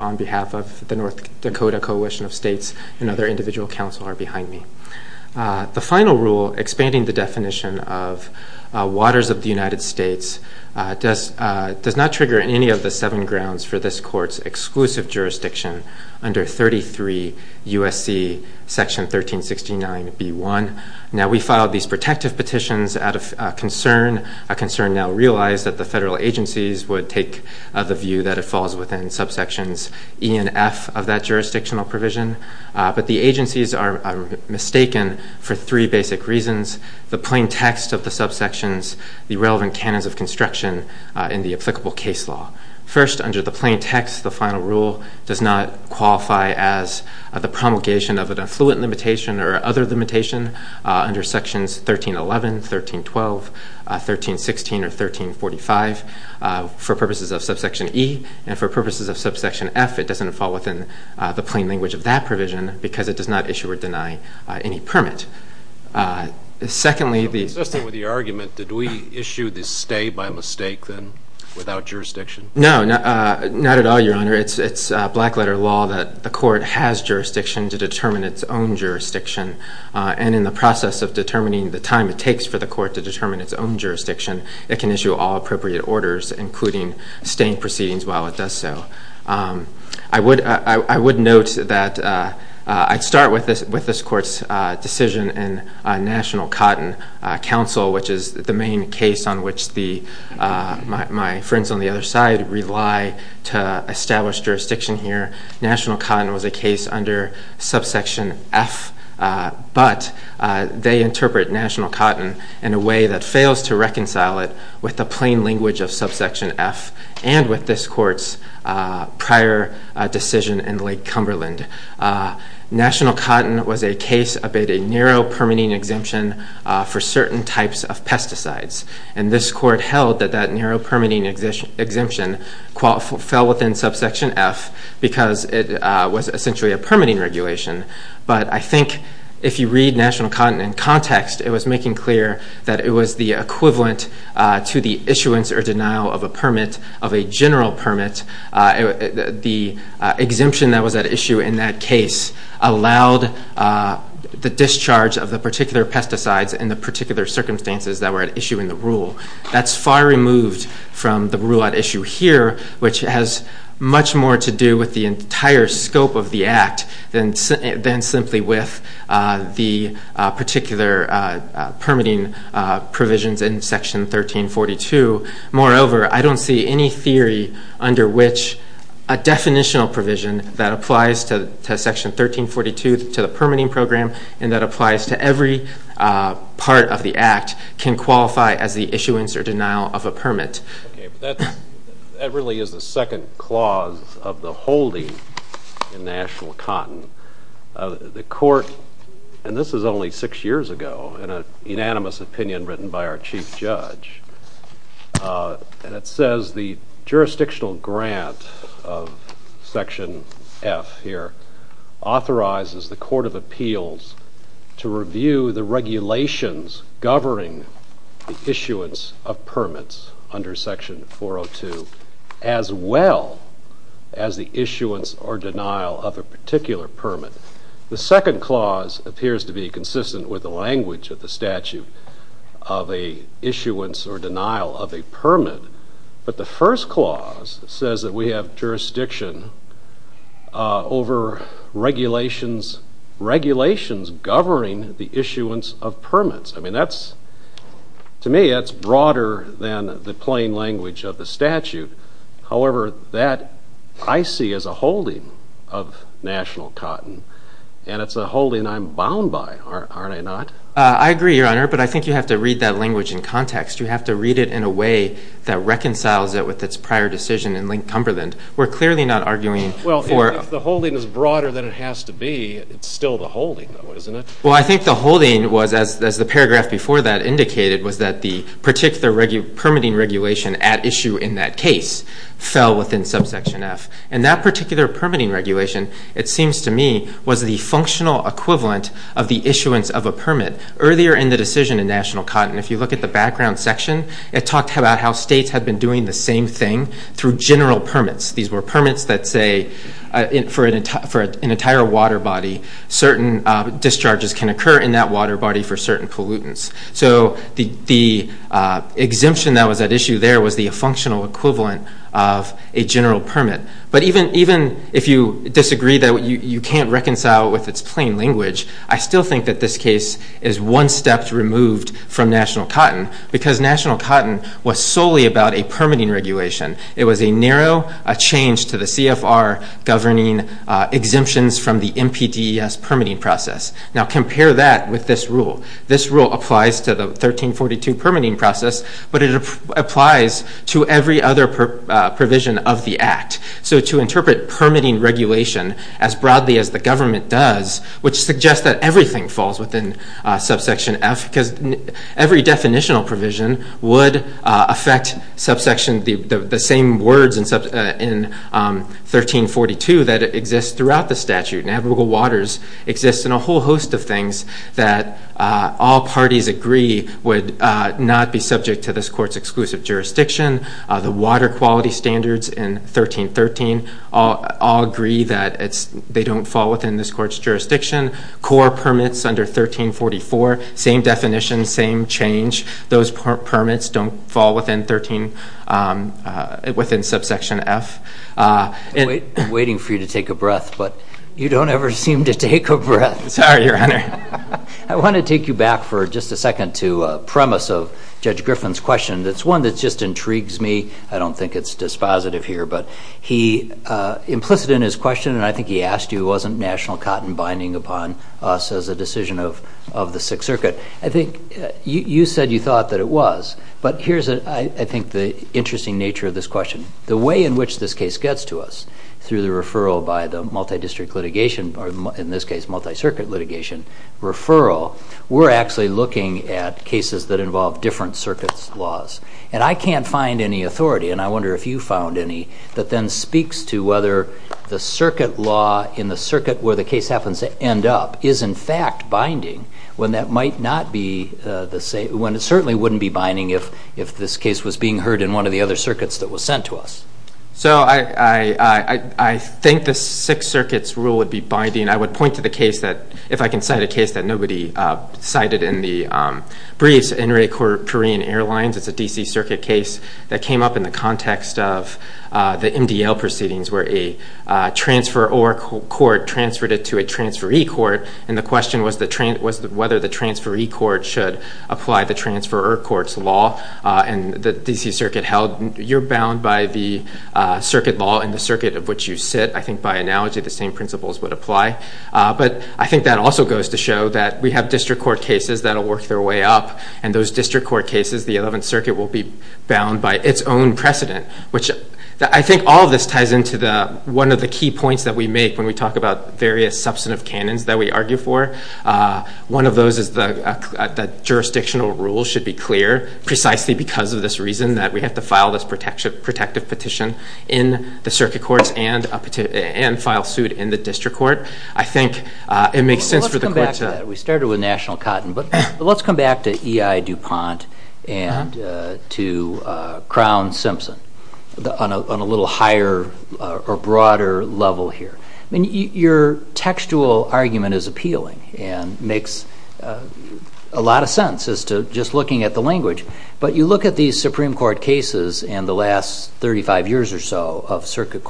of the North Dakota Coalition of States and other individual council are behind me. The final rule, expanding the definition of waters of the United States, does not trigger any of the seven grounds for this court's exclusive jurisdiction under 33 U.S.C. section 1369b1. Now, we filed these protective petitions out of concern, a concern now realized that the federal agencies would take the view that it falls within subsections E and F of that jurisdictional provision, but the agencies are mistaken for three basic reasons, the plain text of the subsections, the relevant canons of construction in the applicable case law. First, under the plain text, the final rule does not qualify as the promulgation of an affluent limitation or other limitation under sections 1311, 1312, 1316, or 1345 for purposes of subsection E, and for purposes of subsection F, it doesn't fall within the plain language of that provision because it does not issue or deny any permit. Secondly, the... Just with the argument, did we issue the stay by mistake then, without jurisdiction? No, not at all, Your Honor. It's black letter law that the court has jurisdiction to determine its own jurisdiction, and in the process of determining the time it takes for the court to determine its own jurisdiction, it can issue all appropriate orders, including staying proceedings while it does so. I would note that I'd start with this court's decision in National Cotton Council, which is the main case on which my friends on the other side rely to establish jurisdiction here. National Cotton was a case under subsection F, but they interpret National Cotton in a way that fails to reconcile it with the plain language of subsection F and with this court's prior decision in Lake Cumberland. National Cotton was a case about a narrow permitting exemption for certain types of pesticides, and this court held that that narrow permitting exemption fell within subsection F because it was essentially a permitting regulation, but I think if you read National Cotton in context, it was making clear that it was the equivalent to the issuance or denial of a permit, of a general permit. The exemption that was at issue in that case allowed the discharge of the particular pesticides in the particular circumstances that were at issue in the rule. That's far removed from the rule at issue here, which has much more to do with the entire scope of the act than simply with the particular permitting provisions in section 1342. Moreover, I don't see any theory under which a definitional provision that applies to section 1342 to the permitting program and that applies to every part of the act can qualify as the issuance or denial of a permit. That really is the second clause of the holding in National Cotton. The court, and this is only six years ago in an unanimous opinion written by our chief judge, and it says the jurisdictional grant of section F here authorizes the court of appeals to review the regulations governing the issuance of permits under section 402 as well as the issuance or denial of a particular permit. The second clause appears to be consistent with the language of the statute of an issuance or denial of a permit, but the first clause says that we have jurisdiction over regulations governing the issuance of permits. To me, that's broader than the plain language of the statute. However, that I see as a holding of National Cotton, and it's a holding I'm bound by, aren't I not? I agree, Your Honor, but I think you have to read that language in context. You have to read it in a way that reconciles it with its prior decision in Link Cumberland. Well, if the holding is broader than it has to be, it's still the holding, though, isn't it? Well, I think the holding was, as the paragraph before that indicated, was that the particular permitting regulation at issue in that case fell within subsection F. And that particular permitting regulation, it seems to me, was the functional equivalent of the issuance of a permit. Earlier in the decision in National Cotton, if you look at the background section, it talked about how states had been doing the same thing through general permits. These were permits that say, for an entire water body, certain discharges can occur in that water body for certain pollutants. So the exemption that was at issue there was the functional equivalent of a general permit. But even if you disagree that you can't reconcile it with its plain language, I still think that this case is one step removed from National Cotton, because National Cotton was solely about a permitting regulation. It was a narrow change to the CFR governing exemptions from the MPDES permitting process. Now compare that with this rule. This rule applies to the 1342 permitting process, but it applies to every other provision of the Act. So to interpret permitting regulation as broadly as the government does, which suggests that everything falls within subsection F, because every definitional provision would affect the same words in 1342 that exist throughout the statute. And abrogal waters exist in a whole host of things that all parties agree would not be subject to this court's exclusive jurisdiction. The water quality standards in 1313 all agree that they don't fall within this court's jurisdiction. Core permits under 1344, same definition, same change. Those permits don't fall within subsection F. I'm waiting for you to take a breath, but you don't ever seem to take a breath. I want to take you back for just a second to a premise of Judge Griffin's question that's one that just intrigues me. I don't think it's dispositive here, but he implicit in his question, and I think he asked you, wasn't national cotton binding upon us as a decision of the Sixth Circuit? I think you said you thought that it was, but here's I think the interesting nature of this question. The way in which this case gets to us through the referral by the multi-district litigation, or in this case multi-circuit litigation referral, we're actually looking at cases that involve different circuit laws. And I can't find any authority, and I wonder if you found any, that then speaks to whether the circuit law in the circuit where the case happens to end up is in fact binding when it certainly wouldn't be binding if this case was being heard in one of the other circuits that was sent to us. So I think the Sixth Circuit's rule would be binding. I would point to the case that, if I can cite a case that nobody cited in the briefs, Inuit Korean Airlines. It's a D.C. Circuit case that came up in the context of the MDL proceedings where a transferor court transferred it to a transferee court, and the question was whether the transferee court should apply the transferor court's law. And the circuit law in the circuit of which you sit, I think by analogy the same principles would apply. But I think that also goes to show that we have district court cases that will work their way up, and those district court cases, the Eleventh Circuit will be bound by its own precedent. I think all of this ties into one of the key points that we make when we talk about various substantive canons that we argue for. One of those is that jurisdictional rules should be clear, precisely because of this reason that we have to file this protective petition in the circuit courts and file suit in the district court. I think it makes sense for the court to... Let's come back to that. We started with National Cotton, but let's come back to E.I. DuPont and to Crown-Simpson on a little higher or broader level here. Your textual argument is appealing and makes a lot of sense as to just looking at the language. But you look at these Supreme Court cases in the last 35 years or so of Supreme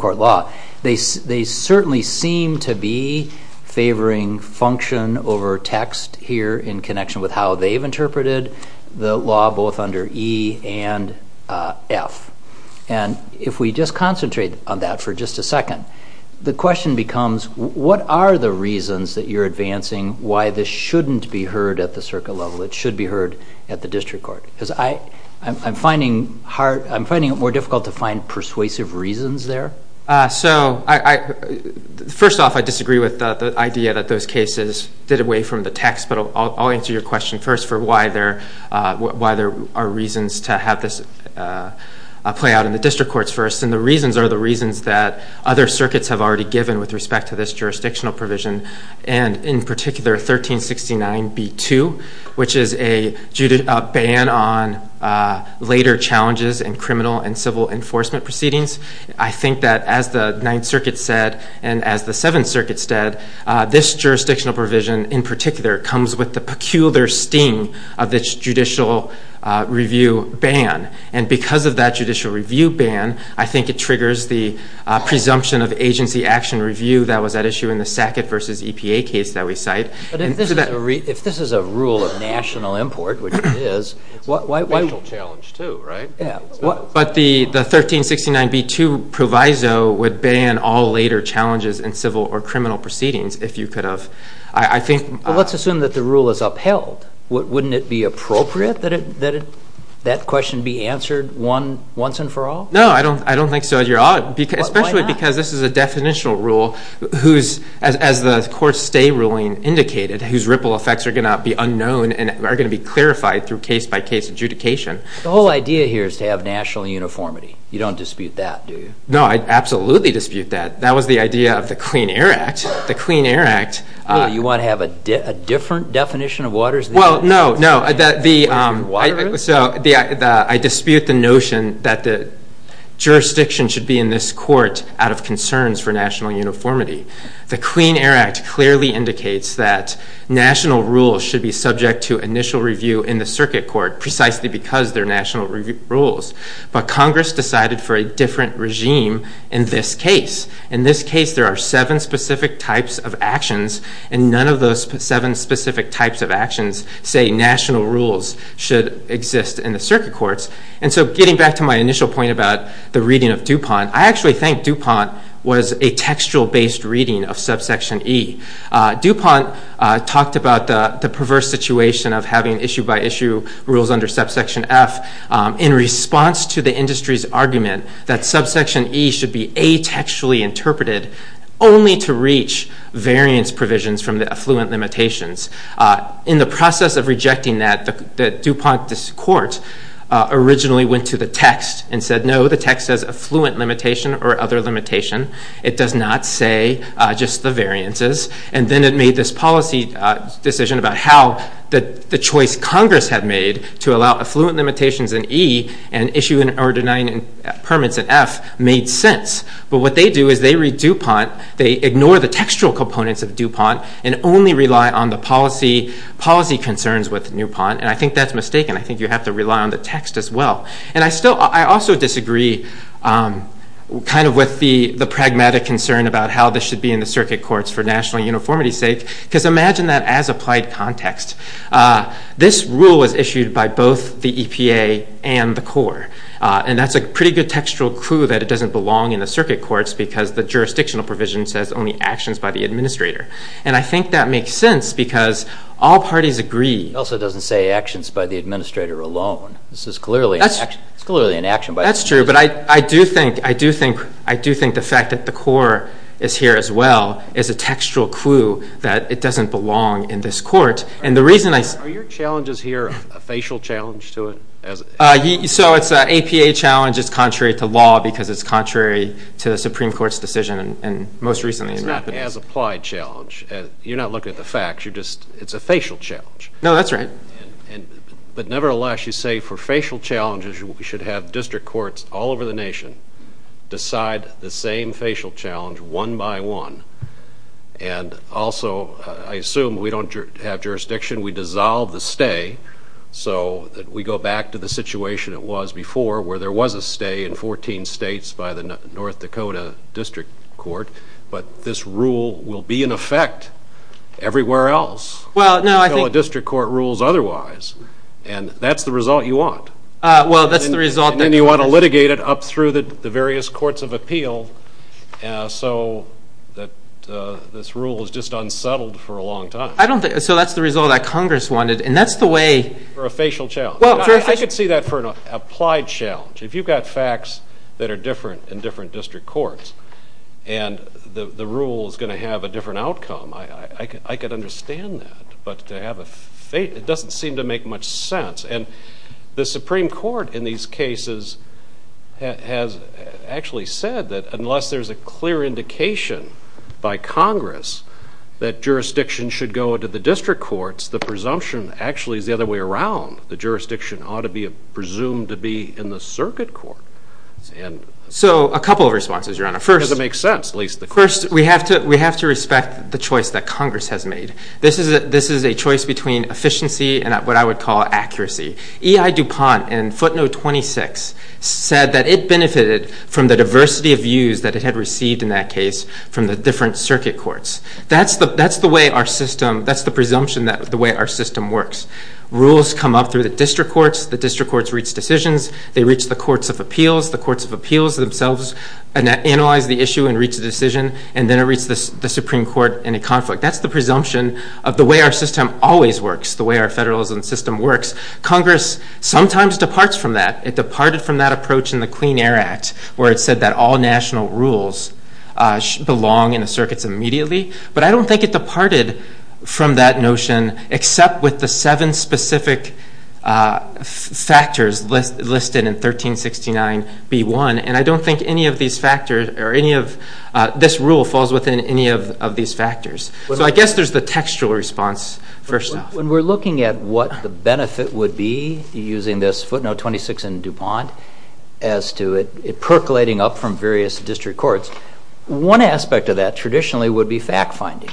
Court law, they certainly seem to be favoring function over text here in connection with how they've interpreted the law both under E and F. And if we just concentrate on that for just a second, the question becomes, what are the reasons that you're advancing why this shouldn't be heard at the circuit level? It should be heard at the district court? Because I'm finding it more difficult to find persuasive reasons there. First off, I disagree with the idea that those cases did away from the text, but I'll answer your question first for why there are reasons to have this play out in the district courts first. And the reasons are the reasons that other circuits have already given with respect to this jurisdictional provision, and in particular, 1369b2, which is a ban on later challenges in criminal and civil enforcement proceedings. I think that as the Ninth Circuit said, and as the Seventh Circuit said, this jurisdictional provision in particular comes with the peculiar sting of this judicial review ban. And because of that judicial review ban, I think it triggers the presumption of agency action review that was at issue in the Sackett v. EPA case that we cite. But if this is a rule of national import, which it is, it's a national challenge too, right? But the 1369b2 proviso would ban all later challenges in civil or criminal proceedings if you could have. Let's assume that the rule is upheld. Wouldn't it be appropriate that that question be answered once and for all? No, I don't think so. Especially because this is a definitional rule, as the court's stay ruling indicated, whose ripple effects are going to be unknown and are going to be clarified through case-by-case adjudication. The whole idea here is to have national uniformity. You don't dispute that, do you? No, I absolutely dispute that. That was the idea of the Clean Air Act. You want to have a different definition of water? I dispute the notion that the jurisdiction should be in this court out of concerns for national uniformity. The Clean Air Act clearly indicates that national rules should be subject to initial review in the circuit court, precisely because they're national rules. But Congress decided for a different regime in this case. In this case, there are seven specific types of actions, and none of those seven specific types of actions say national rules should exist in the circuit courts. And so getting back to my initial point about the reading of DuPont, I actually think DuPont was a textual-based reading of subsection E. DuPont talked about the perverse situation of having issue-by-issue rules under subsection F in response to the industry's argument that subsection E should be a-textually interpreted only to reach variance provisions from the affluent limitations. In the process of rejecting that, the DuPont court originally went to the text and said, no, the text says affluent limitation or other limitation. It does not say just the variances. And then it made this policy decision about how the choice Congress had made to allow affluent limitations in E and issue or deny permits in F made sense. But what they do is they read DuPont, they ignore the textual components of DuPont, and only rely on the policy concerns with DuPont. And I think that's mistaken. I think you have to rely on the text as well. And I also disagree kind of with the pragmatic concern about how this should be in the circuit courts for national uniformity's sake, because imagine that as applied context. This rule was issued by both the EPA and the CORE. And that's a pretty good textual clue that it doesn't belong in the circuit courts because the jurisdictional provision says only actions by the administrator. And I think that makes sense because all parties agree. It also doesn't say actions by the administrator alone. It's clearly an action by the administrator. That's true, but I do think the fact that the CORE is here as well is a textual clue that it doesn't belong in this court. Are your challenges here a facial challenge to it? So it's an APA challenge. It's contrary to law because it's contrary to the Supreme Court's decision. It's not an as-applied challenge. You're not looking at the facts. It's a facial challenge. No, that's right. But nevertheless, you say for facial challenges, we should have district courts all over the nation decide the same facial challenge one by one. And also, I assume we don't have jurisdiction. We dissolve the stay so that we go back to the situation it was before where there was a stay in 14 states by the North Dakota District Court. But this rule will be in effect everywhere else until a district court rules otherwise. And that's the result you want. And then you want to litigate it up through the various courts of appeal so that this rule is just unsettled for a long time. So that's the result that Congress wanted. And that's the way... For a facial challenge. I could see that for an applied challenge. If you've got facts that are different in different district courts and the rule is going to have a different outcome, I could understand that. But it doesn't seem to make much sense. And the unless there's a clear indication by Congress that jurisdiction should go into the district courts, the presumption actually is the other way around. The jurisdiction ought to be presumed to be in the circuit court. So a couple of responses, Your Honor. First, we have to respect the choice that Congress has made. This is a choice between efficiency and what I would call accuracy. E.I. DuPont and Footnote 26 said that it benefited from the diversity of views that it had received in that case from the different circuit courts. That's the way our system... That's the presumption that the way our system works. Rules come up through the district courts. The district courts reach decisions. They reach the courts of appeals. The courts of appeals themselves analyze the issue and reach a decision. And then it reaches the Supreme Court in a conflict. That's the presumption of the way our system always works, the way our federalism system works. Congress sometimes departs from that. It departed from that approach in the Clean Air Act where it said that all national rules belong in the circuits immediately. But I don't think it departed from that notion except with the seven specific factors listed in 1369b1. And I don't think any of these factors or any of this rule falls within any of these factors. So I guess there's the textual response first off. When we're looking at what the benefit would be using this Footnote 26 and DuPont as to it percolating up from various district courts, one aspect of that traditionally would be fact finding.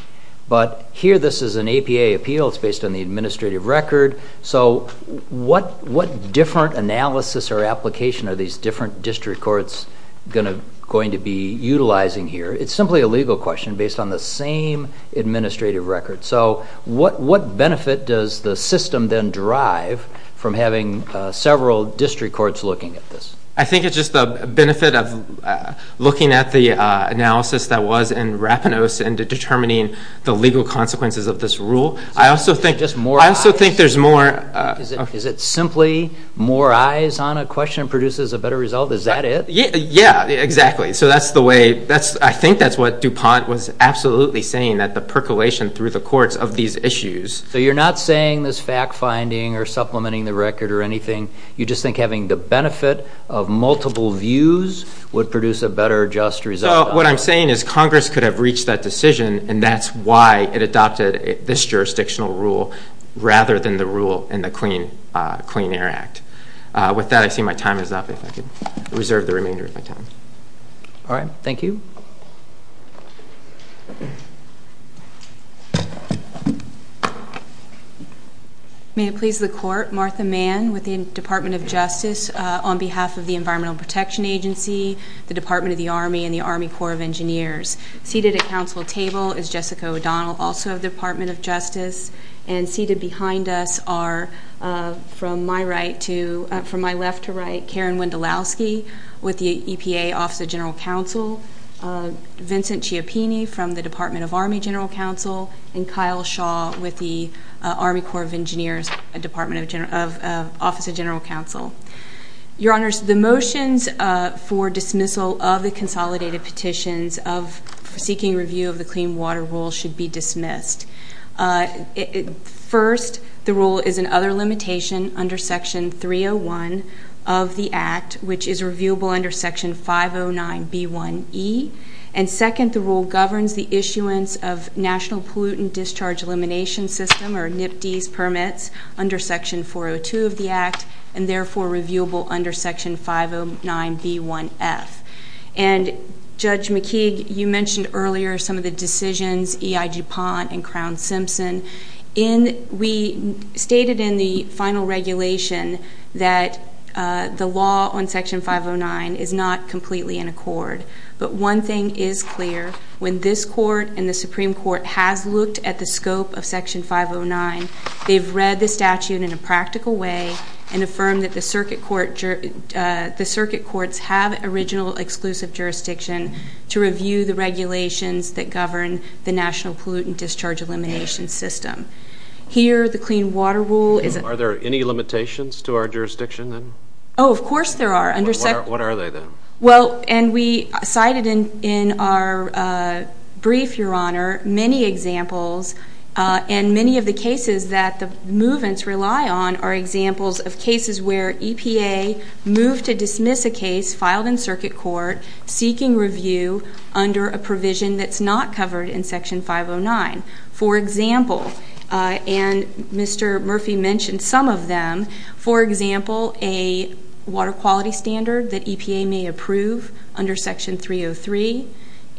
But here this is an APA appeal. It's based on the administrative record. So what different analysis or application are these different district courts going to be utilizing here? It's simply a legal question based on the same administrative record. So what benefit does the system then drive from having several district courts looking at this? I think it's just the benefit of looking at the analysis that was in Rapinos and determining the legal consequences of this rule. I also think there's more... Is it simply more eyes on a question produces a better result? Is that it? Yeah, exactly. So that's the way, I think that's what DuPont was absolutely saying, that the percolation through the courts of these issues. So you're not saying this fact finding or supplementing the record or anything. You just think having the benefit of multiple views would produce a better just result. What I'm saying is Congress could have reached that decision and that's why it adopted this jurisdictional rule rather than the rule in the Clean Air Act. With that, I see my time is up. If I could reserve the remainder of my time. Alright, thank you. May it please the court, Martha Mann with the Department of Justice on behalf of the Environmental Protection Agency, the Department of the Army, and the Army Corps of Engineers. Seated at council table is Jessica O'Donnell, also of the Department of Justice. And seated behind us are, from my left to right, Karen Wendolowski with the EPA Office of General Counsel, Vincent Cioppini from the Department of Army General Counsel, and Kyle Shaw with the Army Corps of Engineers Office of General Counsel. Your Honors, the motions for dismissal of the consolidated petitions of seeking review of the Clean Water Rule should be dismissed. First, the rule is another limitation under Section 301 of the Act, which is reviewable under Section 509B1E. And second, the rule governs the issuance of National Pollutant Discharge Elimination System, or NPDES, permits under Section 402 of the Act, and therefore reviewable under Section 509B1F. And Judge McKeague, you mentioned earlier some of the decisions, E.I. DuPont and Crown-Simpson. We stated in the final regulation that the law on Section 509 is not completely in accord. But one thing is clear. When this Court and the Supreme Court has looked at the scope of Section 509, they've read the statute in a practical way and affirmed that the Circuit Courts have original exclusive jurisdiction to review the regulations that govern the National Pollutant Discharge Elimination System. Here, the Clean Water Rule is... Are there any limitations to our jurisdiction, then? Oh, of course there are. What are they, then? Well, and we cited in our brief, Your Honor, many examples, and many of the cases that the movements rely on are examples of cases where EPA moved to dismiss a case filed in Circuit Court seeking review under a provision that's not covered in Section 509. For example, and Mr. Murphy mentioned some of them, for example, a water quality standard that EPA may approve under Section 303,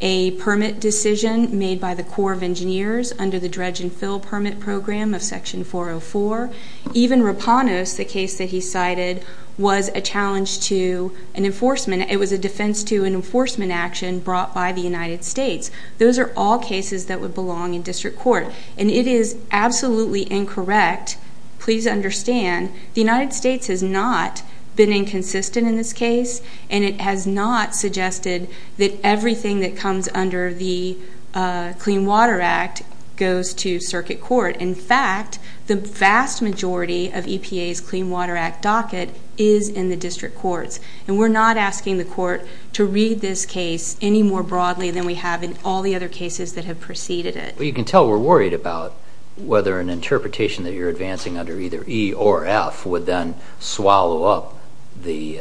a permit decision made by the Corps of Engineers under the dredge and fill permit program of Section 404. Even Raponos, the case that he cited, was a challenge to an enforcement. It was a defense to an enforcement action brought by the United States. Those are all cases that would belong in District Court. And it is absolutely incorrect. Please understand, the United States has not been inconsistent in this case, and it has not suggested that everything that comes under the Clean Water Act goes to Circuit Court. In fact, the vast majority of EPA's Clean Water Act docket is in the District Courts. And we're not asking the Court to read this case any more broadly than we have in all the other cases that have preceded it. Well, you can tell we're worried about whether an interpretation that you're advancing under either E or F would then swallow up the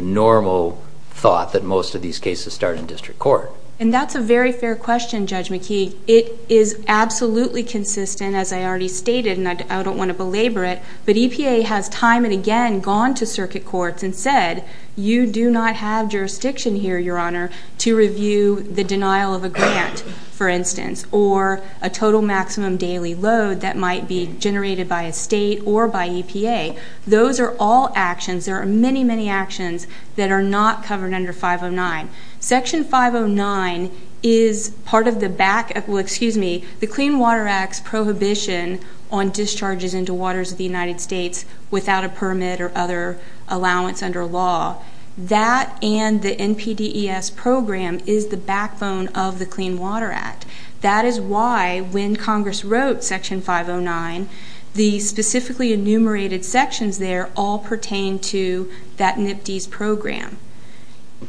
normal thought that most of these cases start in District Court. And that's a very fair question, Judge McKee. It is absolutely consistent, as I already stated, and I don't want to belabor it, but EPA has time and again gone to Circuit Courts and said, you do not have jurisdiction here, Your Honor, to review the denial of a grant, for instance, or a total maximum daily load that might be generated by a state or by EPA. Those are all actions. There are many, many actions that are not covered under 509. Section 509 is part of the back, well, excuse me, the Clean Water Act's prohibition on discharges into waters of the United States without a permit or other allowance under law. That and the NPDES program is the backbone of the Clean Water Act. That is why when Congress wrote Section 509, the specifically enumerated sections there all pertain to that NPDES program.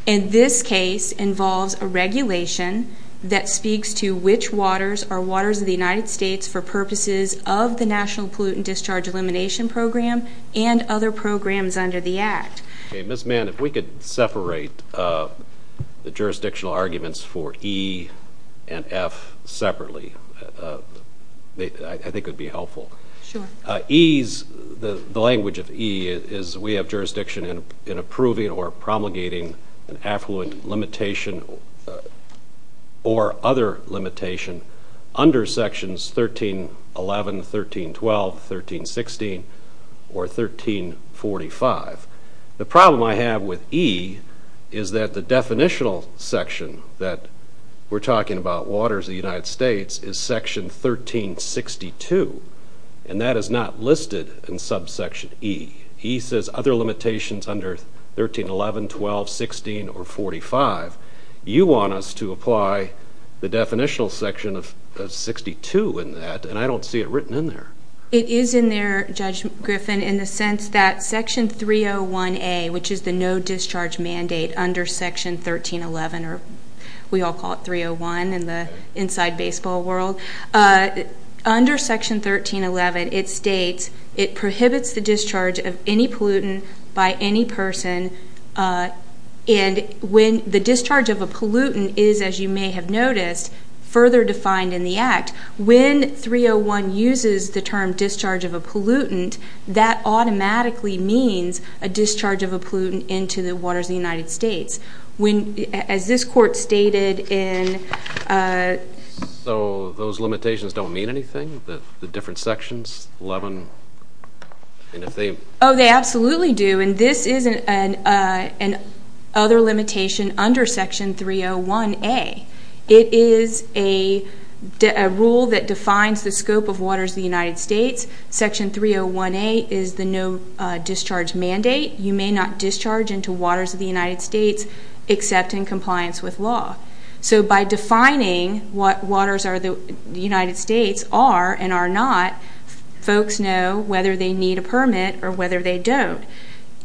And this case involves a regulation that speaks to which waters are waters of the United States for purposes of the National Pollutant Discharge Elimination Program and other programs under the Act. Okay, Ms. Mann, if we could separate the jurisdictional arguments for E and F separately, I think it would be helpful. Sure. E's, the language of E is we have jurisdiction in approving or promulgating an affluent limitation or other limitation under Sections 1311, 1312, 1316, or 1345. The problem I have with E is that the definitional section that we're talking about waters of the United States is Section 1362 and that is not listed in subsection E. E says other limitations under 1311, 12, 16, or 45. You want us to apply the definitional section of 62 in that and I don't see it under Section 301A, which is the no discharge mandate under Section 1311, or we all call it 301 in the inside baseball world. Under Section 1311, it states it prohibits the discharge of any pollutant by any person and when the discharge of a pollutant is, as you may have noticed, further defined in the Act, when 301 uses the term discharge of a pollutant, that automatically means a discharge of a pollutant into the waters of the United States. As this court stated in... So those limitations don't mean anything? The different sections, 11, and if they... Oh, they absolutely do and this is an other limitation under Section 301A. It is a rule that defines the scope of waters of the United States. Section 301A is the no discharge mandate. You may not discharge into waters of the United States except in compliance with law. So by defining what waters are the United States are and are not, folks know whether they need a permit or whether they don't.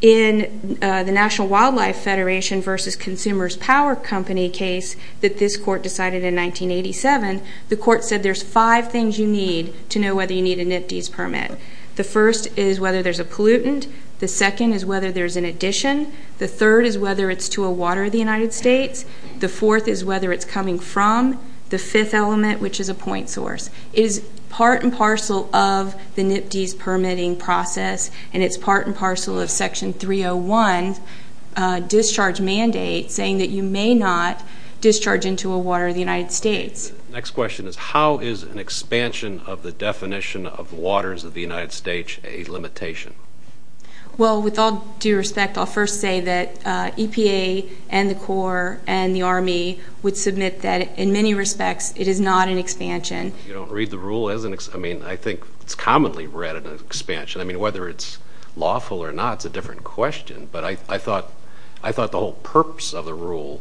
In the National Wildlife Federation versus Consumers Power Company case that this court decided in 1987, the court said there's five things you need to know whether you need a NPDES permit. The first is whether there's a pollutant. The second is whether there's an addition. The third is whether it's to a water of the United States. The fourth is whether it's coming from. The fifth element, which is a point source, is part and parcel of the NPDES permitting process and it's part and parcel of Section 301 discharge mandate saying that you may not discharge into a water of the United States. Next question is how is an expansion of the definition of waters of the United States a limitation? Well, with all due respect, I'll first say that EPA and the Corps and the Army would submit that in many respects it is not an expansion. You don't read the rule as an expansion. I mean, I think it's commonly read as an expansion. I mean, whether it's lawful or not is a different question, but I thought the whole purpose of the rule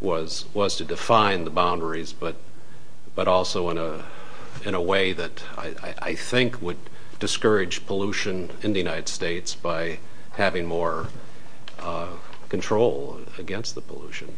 was to define the boundaries, but also in a way that I think would discourage pollution in the United States by having more control against the pollution.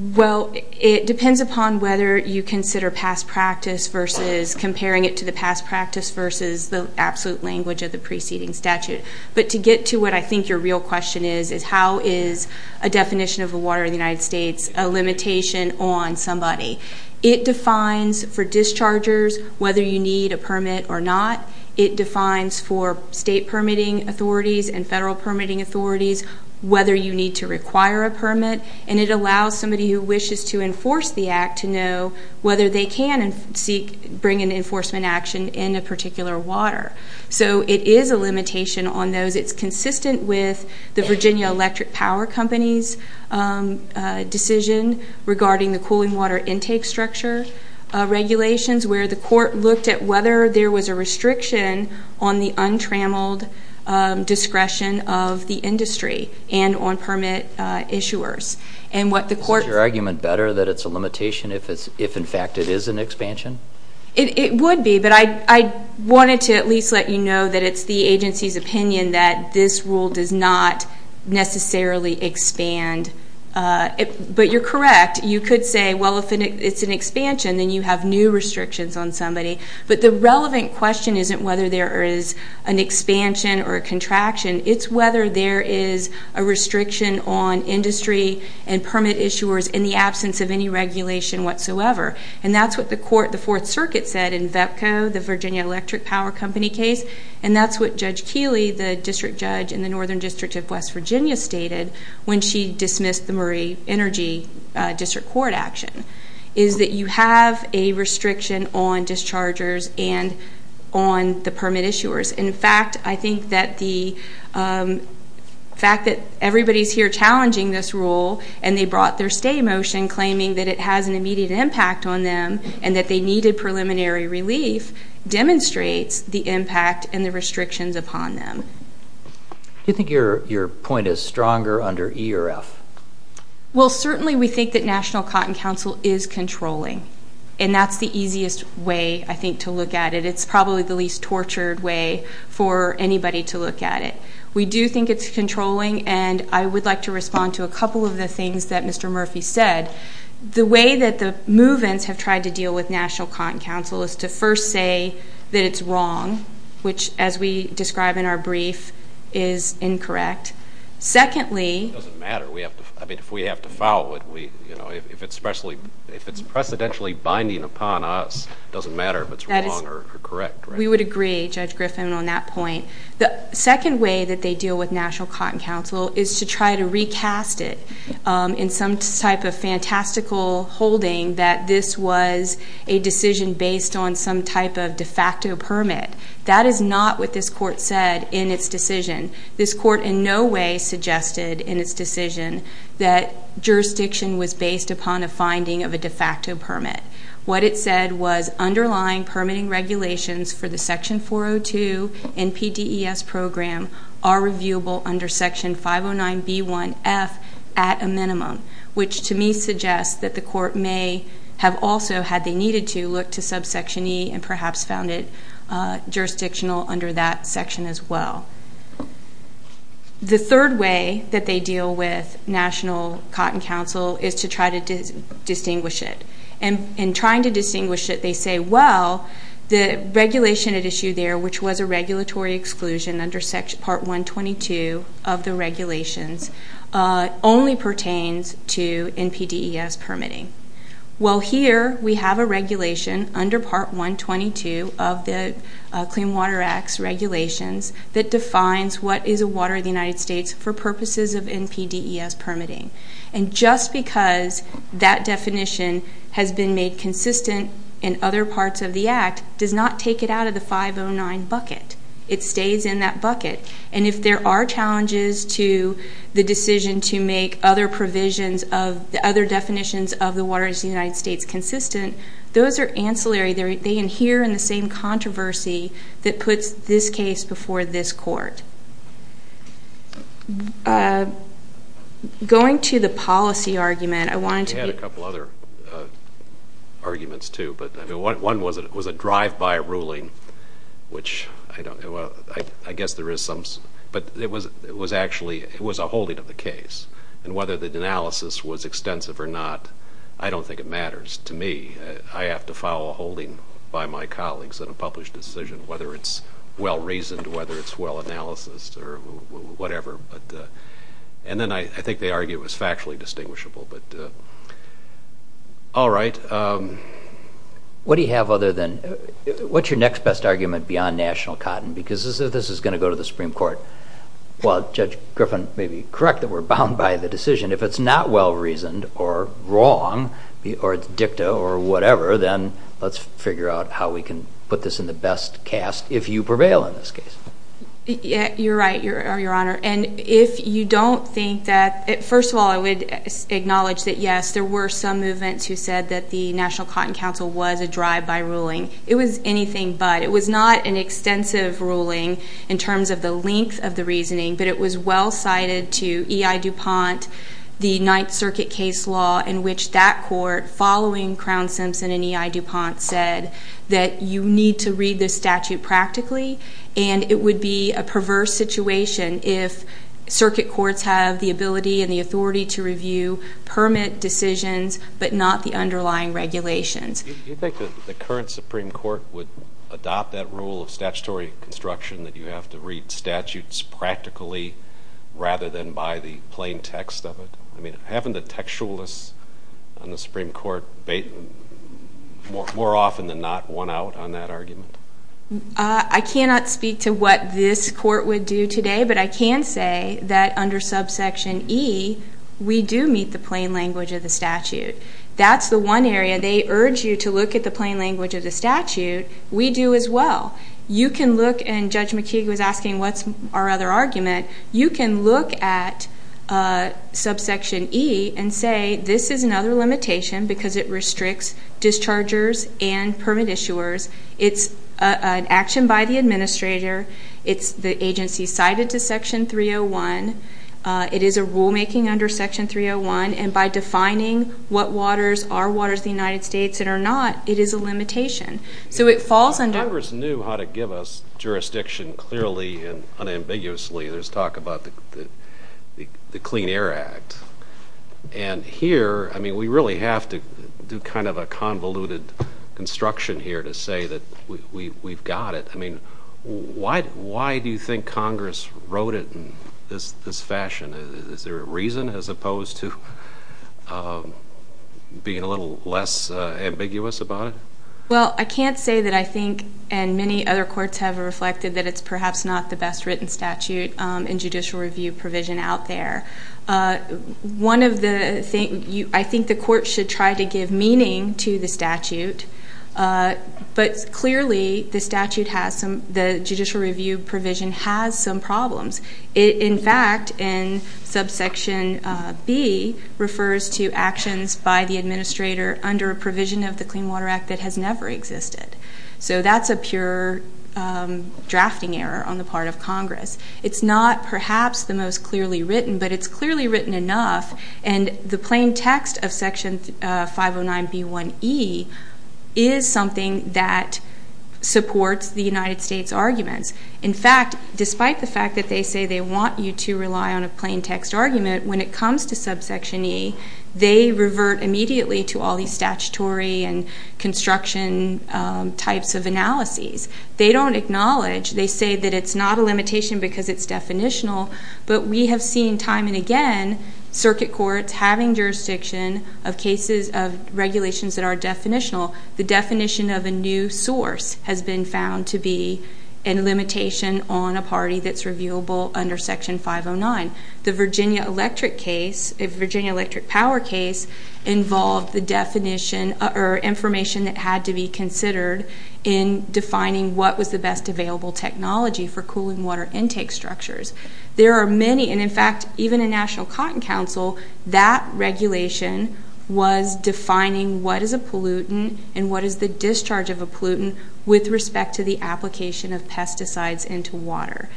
Well, it depends upon whether you consider past practice versus comparing it to the past practice versus the absolute language of the preceding statute. But to get to what I think your real question is, is how is a definition of a water of the United States a limitation on somebody? It defines for dischargers whether you need a permit or not. It defines for state permitting authorities and federal permitting authorities whether you need to require a permit. And it allows somebody who wishes to enforce the act to know whether they can bring an enforcement action in a particular water. So it is a limitation on those. It's consistent with the Virginia Electric Power Company's decision regarding the cooling water intake structure regulations where the court looked at whether there was a restriction on the untrammeled discretion of the industry and on permit issuers. Is your argument better that it's a limitation if in fact it is an expansion? It would be, but I wanted to at least let you know that it's the agency's opinion that this rule does not necessarily expand. But you're correct. You could say, well if it's an expansion then you have new restrictions on somebody. But the relevant question isn't whether there is an expansion or a contraction. It's whether there is a restriction on industry and permit issuers in the absence of any regulation whatsoever. And that's what the court, the Fourth Circuit said in VEPCO, the Virginia Electric Power Company case. And that's what Judge Keeley, the district judge in the Northern District of West Virginia stated when she dismissed the Murray Energy District Court action. Is that you have a restriction on dischargers and on the permit issuers. In fact, I think that the fact that everybody's here challenging this rule and they brought their stay motion claiming that it has an immediate impact on them and that they needed preliminary relief demonstrates the impact and the restrictions upon them. Do you think your point is stronger under E or F? Well certainly we think that National Cotton Council is controlling. And that's the easiest way I think to look at it. It's probably the least tortured way for anybody to look at it. We do think it's controlling and I would like to respond to a couple of the things that Mr. Murphy said. The way that the move-ins have tried to deal with National Cotton Council is to first say that it's wrong, which as we describe in our brief is incorrect. Secondly... It doesn't matter. If we have to file it, if it's precedentially binding upon us, it doesn't matter if it's wrong or correct. We would agree, Judge Griffin, on that point. The second way that they deal with National Cotton Council is to try to recast it in some type of fantastical holding that this was a decision based on some type of de facto permit. That is not what this court said in its decision. This court in no way suggested in its decision that jurisdiction was based upon a finding of a de facto permit. What it said was underlying permitting regulations for the Section 402 NPDES program are reviewable under Section 509B1F at a minimum, which to me suggests that the court may have also, had they needed to, looked to subsection E and perhaps found it jurisdictional under that section as well. The third way that they deal with National Cotton Council is to try to distinguish it. In trying to distinguish it, they say, well, the regulation at issue there, which was a regulatory exclusion under Part 122 of the regulations, only pertains to NPDES permitting. Well, here we have a regulation under Part 122 of the Clean Water Act's regulations that defines what is a water of the United States for purposes of NPDES permitting. And just because that definition has been made consistent in other parts of the Act does not take it out of the 509 bucket. It stays in that bucket. And if there are challenges to the decision to make other definitions of the water of the United States consistent, those are ancillary. They adhere in the same controversy that puts this case before this court. Going to the policy argument, I wanted to be... I had a couple other arguments too, but one was a drive-by ruling, which I don't, I guess there is some, but it was actually, it was a holding of the case. And whether the analysis was extensive or not, I don't think it matters to me. I have to file a holding by my colleagues on a published decision, whether it's well-reasoned, whether it's well-analysed or whatever. And then I think they argue it was factually distinguishable, but all right. What do you have other than, what's your next best argument beyond national cotton? Because this is going to go to the Supreme Court. Well, Judge Griffin may be correct that we're bound by the decision. If it's not well-reasoned or wrong, or it's dicta or whatever, then let's figure out how we can put this in the best cast, if you prevail in this case. You're right, Your Honor. And if you don't think that... First of all, I would acknowledge that yes, there were some movements who said that the National Cotton Council was a drive-by ruling. It was anything but. It was not an extensive ruling in terms of the length of the reasoning, but it was well-cited to E.I. DuPont, the Ninth Circuit case law, in which that court, following Crown-Simpson and E.I. DuPont, said that you need to read this statute practically, and it would be a perverse situation if circuit courts have the ability and the authority to The current Supreme Court would adopt that rule of statutory construction that you have to read statutes practically, rather than by the plain text of it? I mean, haven't the textualists on the Supreme Court more often than not won out on that argument? I cannot speak to what this court would do today, but I can say that under subsection E, we do meet the plain language of the statute. That's the one area they urge you to look at the plain language of the statute. We do as well. You can look, and Judge McKeague was asking, what's our other argument? You can look at subsection E and say, this is another limitation because it restricts dischargers and permit issuers. It's an action by the administrator. It's the agency cited to section 301. It is a rulemaking under section 301, and by defining what waters are waters of the United States that are not, it is a limitation. Congress knew how to give us jurisdiction clearly and unambiguously. There's talk about the Clean Air Act, and here, we really have to do kind of a convoluted construction here to say that we've got it. I mean, why do you think Congress wrote it in this fashion? Is there a reason as opposed to being a little less ambiguous about it? Well, I can't say that I think, and many other courts have reflected that it's perhaps not the best written statute in judicial review provision out there. One of the things, I think the court should try to give meaning to the statute, but clearly the statute has some, the judicial review provision has some problems. In fact, in subsection B refers to actions by the administrator under a provision of the Clean Water Act that has never existed. So that's a pure drafting error on the part of Congress. It's not perhaps the most clearly written, but it's clearly written enough, and the plain text of section 509B1E is something that supports the United States arguments. In fact, despite the fact that they say they want you to rely on a plain text argument, when it comes to subsection E, they revert immediately to all these statutory and construction types of analyses. They don't acknowledge, they say that it's not a limitation because it's definitional, but we have seen time and again circuit courts having jurisdiction of cases of regulations that are definitional. The definition of a new source has been found to be a limitation on a party that's reviewable under section 509. The Virginia Electric case, the Virginia Electric power case, involved the definition or information that had to be considered in defining what was the best available technology for cooling water intake structures. There are many, and in fact, even in National Cotton Council, that regulation was defining what is a pollutant and what is the discharge of a pollutant with respect to the application of pesticides into water.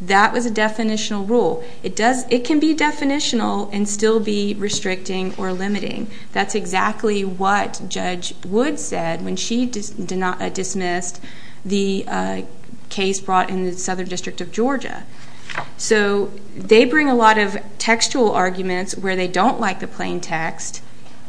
That was a definitional rule. It can be definitional and still be restricting or limiting. That's exactly what Judge Wood said when she dismissed the case brought in the Southern District of Georgia. So they bring a lot of textual arguments where they don't like the plain text,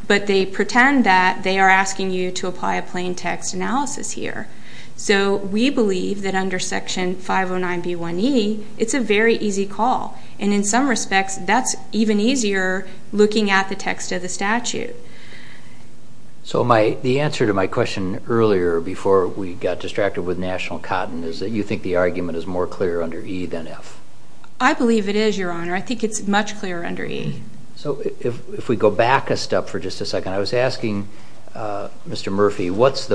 but they pretend that they are asking you to apply a plain text. If you apply a plain text under section 501E, it's a very easy call. And in some respects, that's even easier looking at the text of the statute. So the answer to my question earlier, before we got distracted with National Cotton, is that you think the argument is more clear under E than F? I believe it is, Your Honor. I think it's much clearer under E. So if we go back a step for just a second, I was looking at Judge Wood's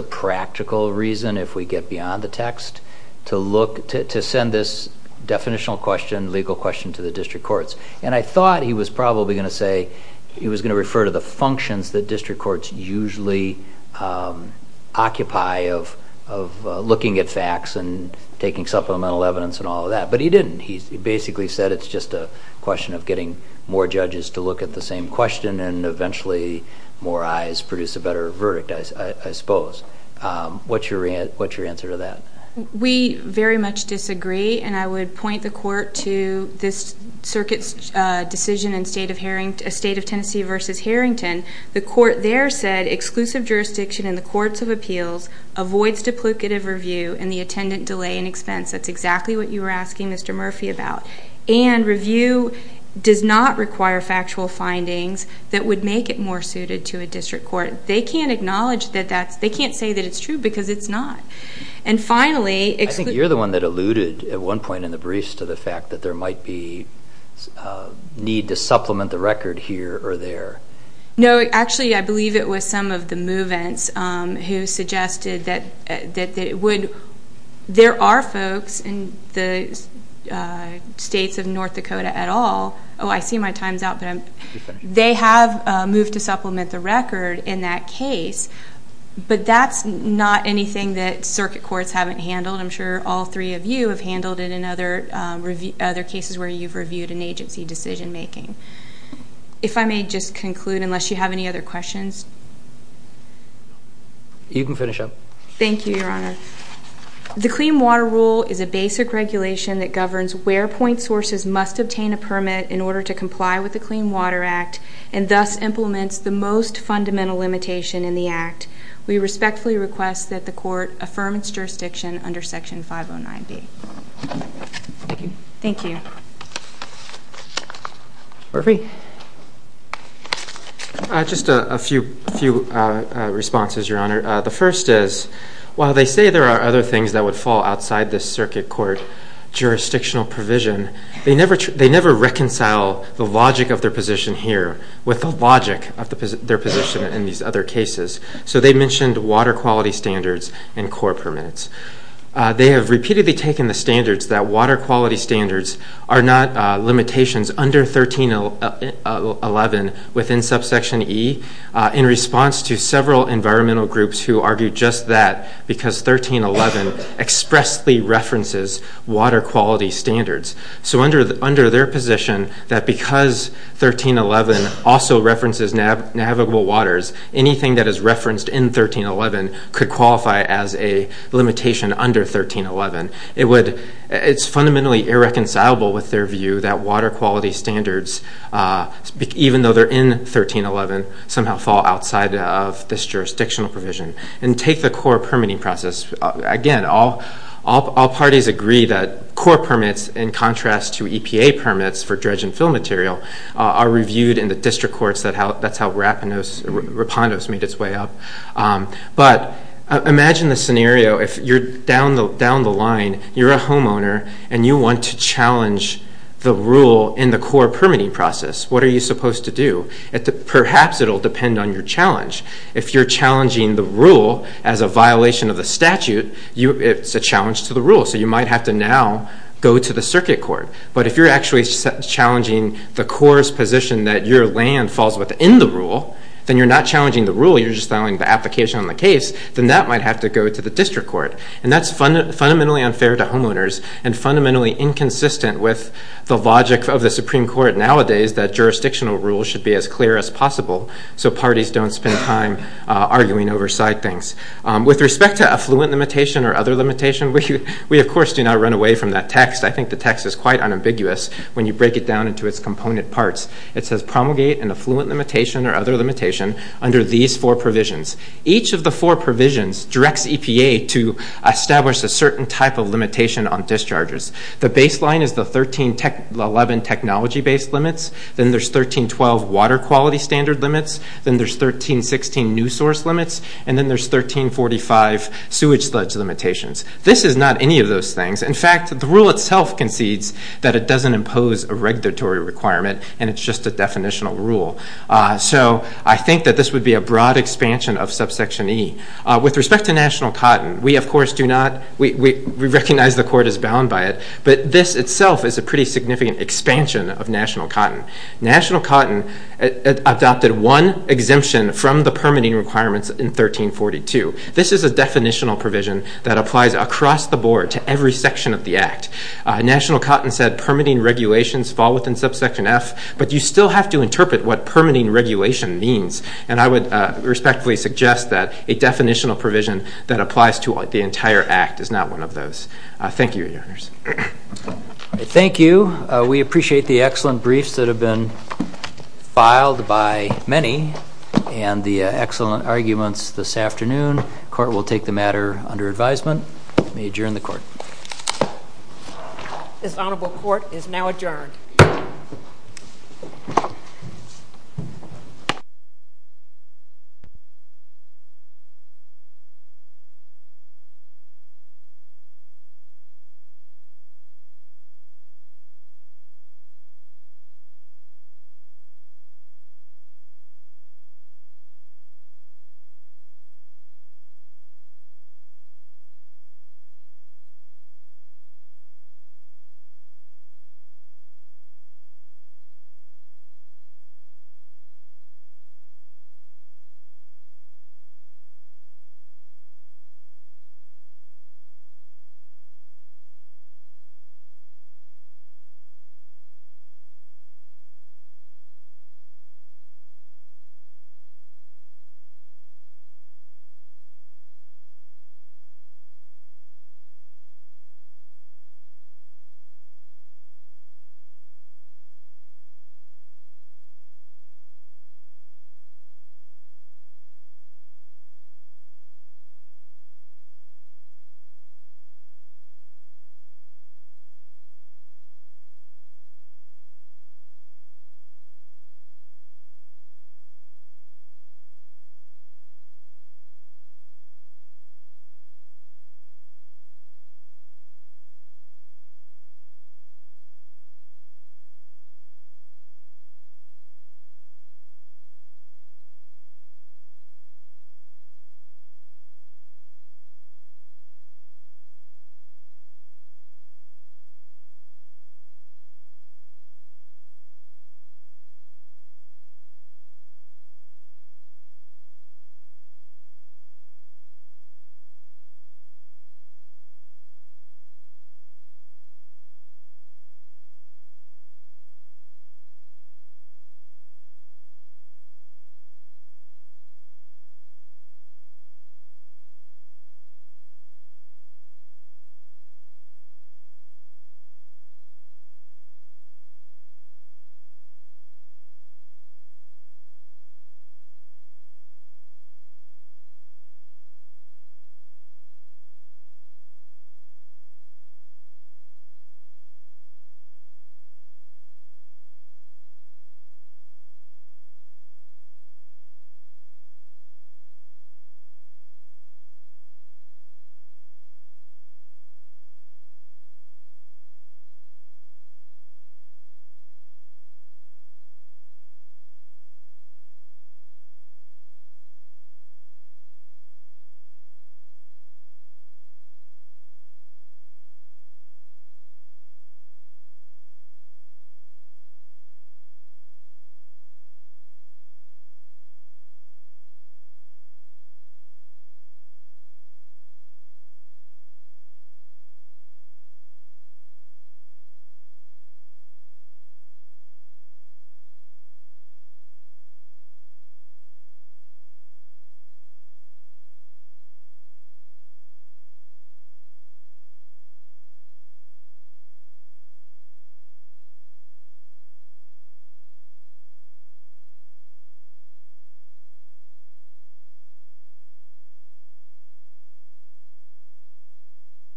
definitional question, legal question to the district courts. And I thought he was probably going to say he was going to refer to the functions that district courts usually occupy of looking at facts and taking supplemental evidence and all of that. But he didn't. He basically said it's just a question of getting more judges to look at the same question and eventually more eyes produce a better verdict, I suppose. What's your answer to that? We very much disagree. And I would point the court to this circuit's decision in State of Tennessee versus Harrington. The court there said exclusive jurisdiction in the courts of appeals avoids duplicative review and the attendant delay in expense. That's exactly what you were asking Mr. Murphy about. And review does not require factual findings that would make it more suited to a district court. They can't acknowledge that that's, they can't say that it's true because it's not. And finally... I think you're the one that alluded at one point in the briefs to the fact that there might be need to supplement the record here or there. No, actually I believe it was some of the move-ins who suggested that it would, there are folks in the Oh, I see my time's out. They have moved to supplement the record in that case. But that's not anything that circuit courts haven't handled. I'm sure all three of you have handled it in other cases where you've reviewed an agency decision-making. If I may just conclude, unless you have any other questions. You can finish up. Thank you, Your Honor. The Clean Water Rule is a basic regulation that governs where point sources must obtain a permit in order to comply with the Clean Water Act and thus implements the most fundamental limitation in the Act. We respectfully request that the court affirm its jurisdiction under Section 509B. Thank you. Mr. Murphy? Just a few responses, Your Honor. The first is, while they say there are other things that would fall outside this circuit court jurisdictional provision, they never reconcile the logic of their position here with the logic of their position in these other cases. So they mentioned water quality standards and court permits. They have repeatedly taken the standards that water quality standards are not limitations under 1311 within Subsection E in response to several environmental groups who argue just that because 1311 expressly references water quality standards. So under their position that because 1311 also references navigable waters, anything that is referenced in 1311, it's fundamentally irreconcilable with their view that water quality standards, even though they're in 1311, somehow fall outside of this jurisdictional provision. And take the core permitting process. Again, all parties agree that core permits, in contrast to EPA permits for dredge and fill material, are reviewed in the district courts. That's how it works. If you're down the line, you're a homeowner, and you want to challenge the rule in the core permitting process, what are you supposed to do? Perhaps it will depend on your challenge. If you're challenging the rule as a violation of the statute, it's a challenge to the rule. So you might have to now go to the circuit court. But if you're actually challenging the core's position that your land falls within the rule, then you're not challenging the rule, you're just filing the application on the case, then that might have to go to the district court. And that's fundamentally unfair to homeowners and fundamentally inconsistent with the logic of the Supreme Court nowadays that jurisdictional rules should be as clear as possible so parties don't spend time arguing over side things. With respect to affluent limitation or other limitation, we of course do not run away from that text. I think the text is quite unambiguous when you break it down into its component parts. It says promulgate an affluent limitation or other limitation under these four provisions. Each of the four provisions directs EPA to establish a certain type of limitation on discharges. The baseline is the 13-11 technology-based limits. Then there's 13-12 water quality standard limits. Then there's 13-16 new source limits. And then there's 13-45 sewage sludge limitations. This is not any of those things. In fact, the rule itself concedes that it doesn't impose a regulatory requirement and it's just a definitional rule. So I think that this would be a broad expansion of subsection E. With respect to national cotton, we of course do not, we recognize the court is bound by it, but this itself is a pretty significant expansion of national cotton. National cotton adopted one of the permitting requirements in 13-42. This is a definitional provision that applies across the board to every section of the Act. National cotton said permitting regulations fall within subsection F, but you still have to interpret what permitting regulation means. And I would respectfully suggest that a definitional provision that applies to the entire Act is not one of those. Thank you, Your Honors. Thank you. We appreciate the excellent arguments this afternoon. Court will take the matter under advisement. May adjourn the court. This honorable court is now adjourned.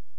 Thank you. Thank you. Thank you. Thank you. Thank you. Thank you. Thank you. Thank you. Thank you. Thank you.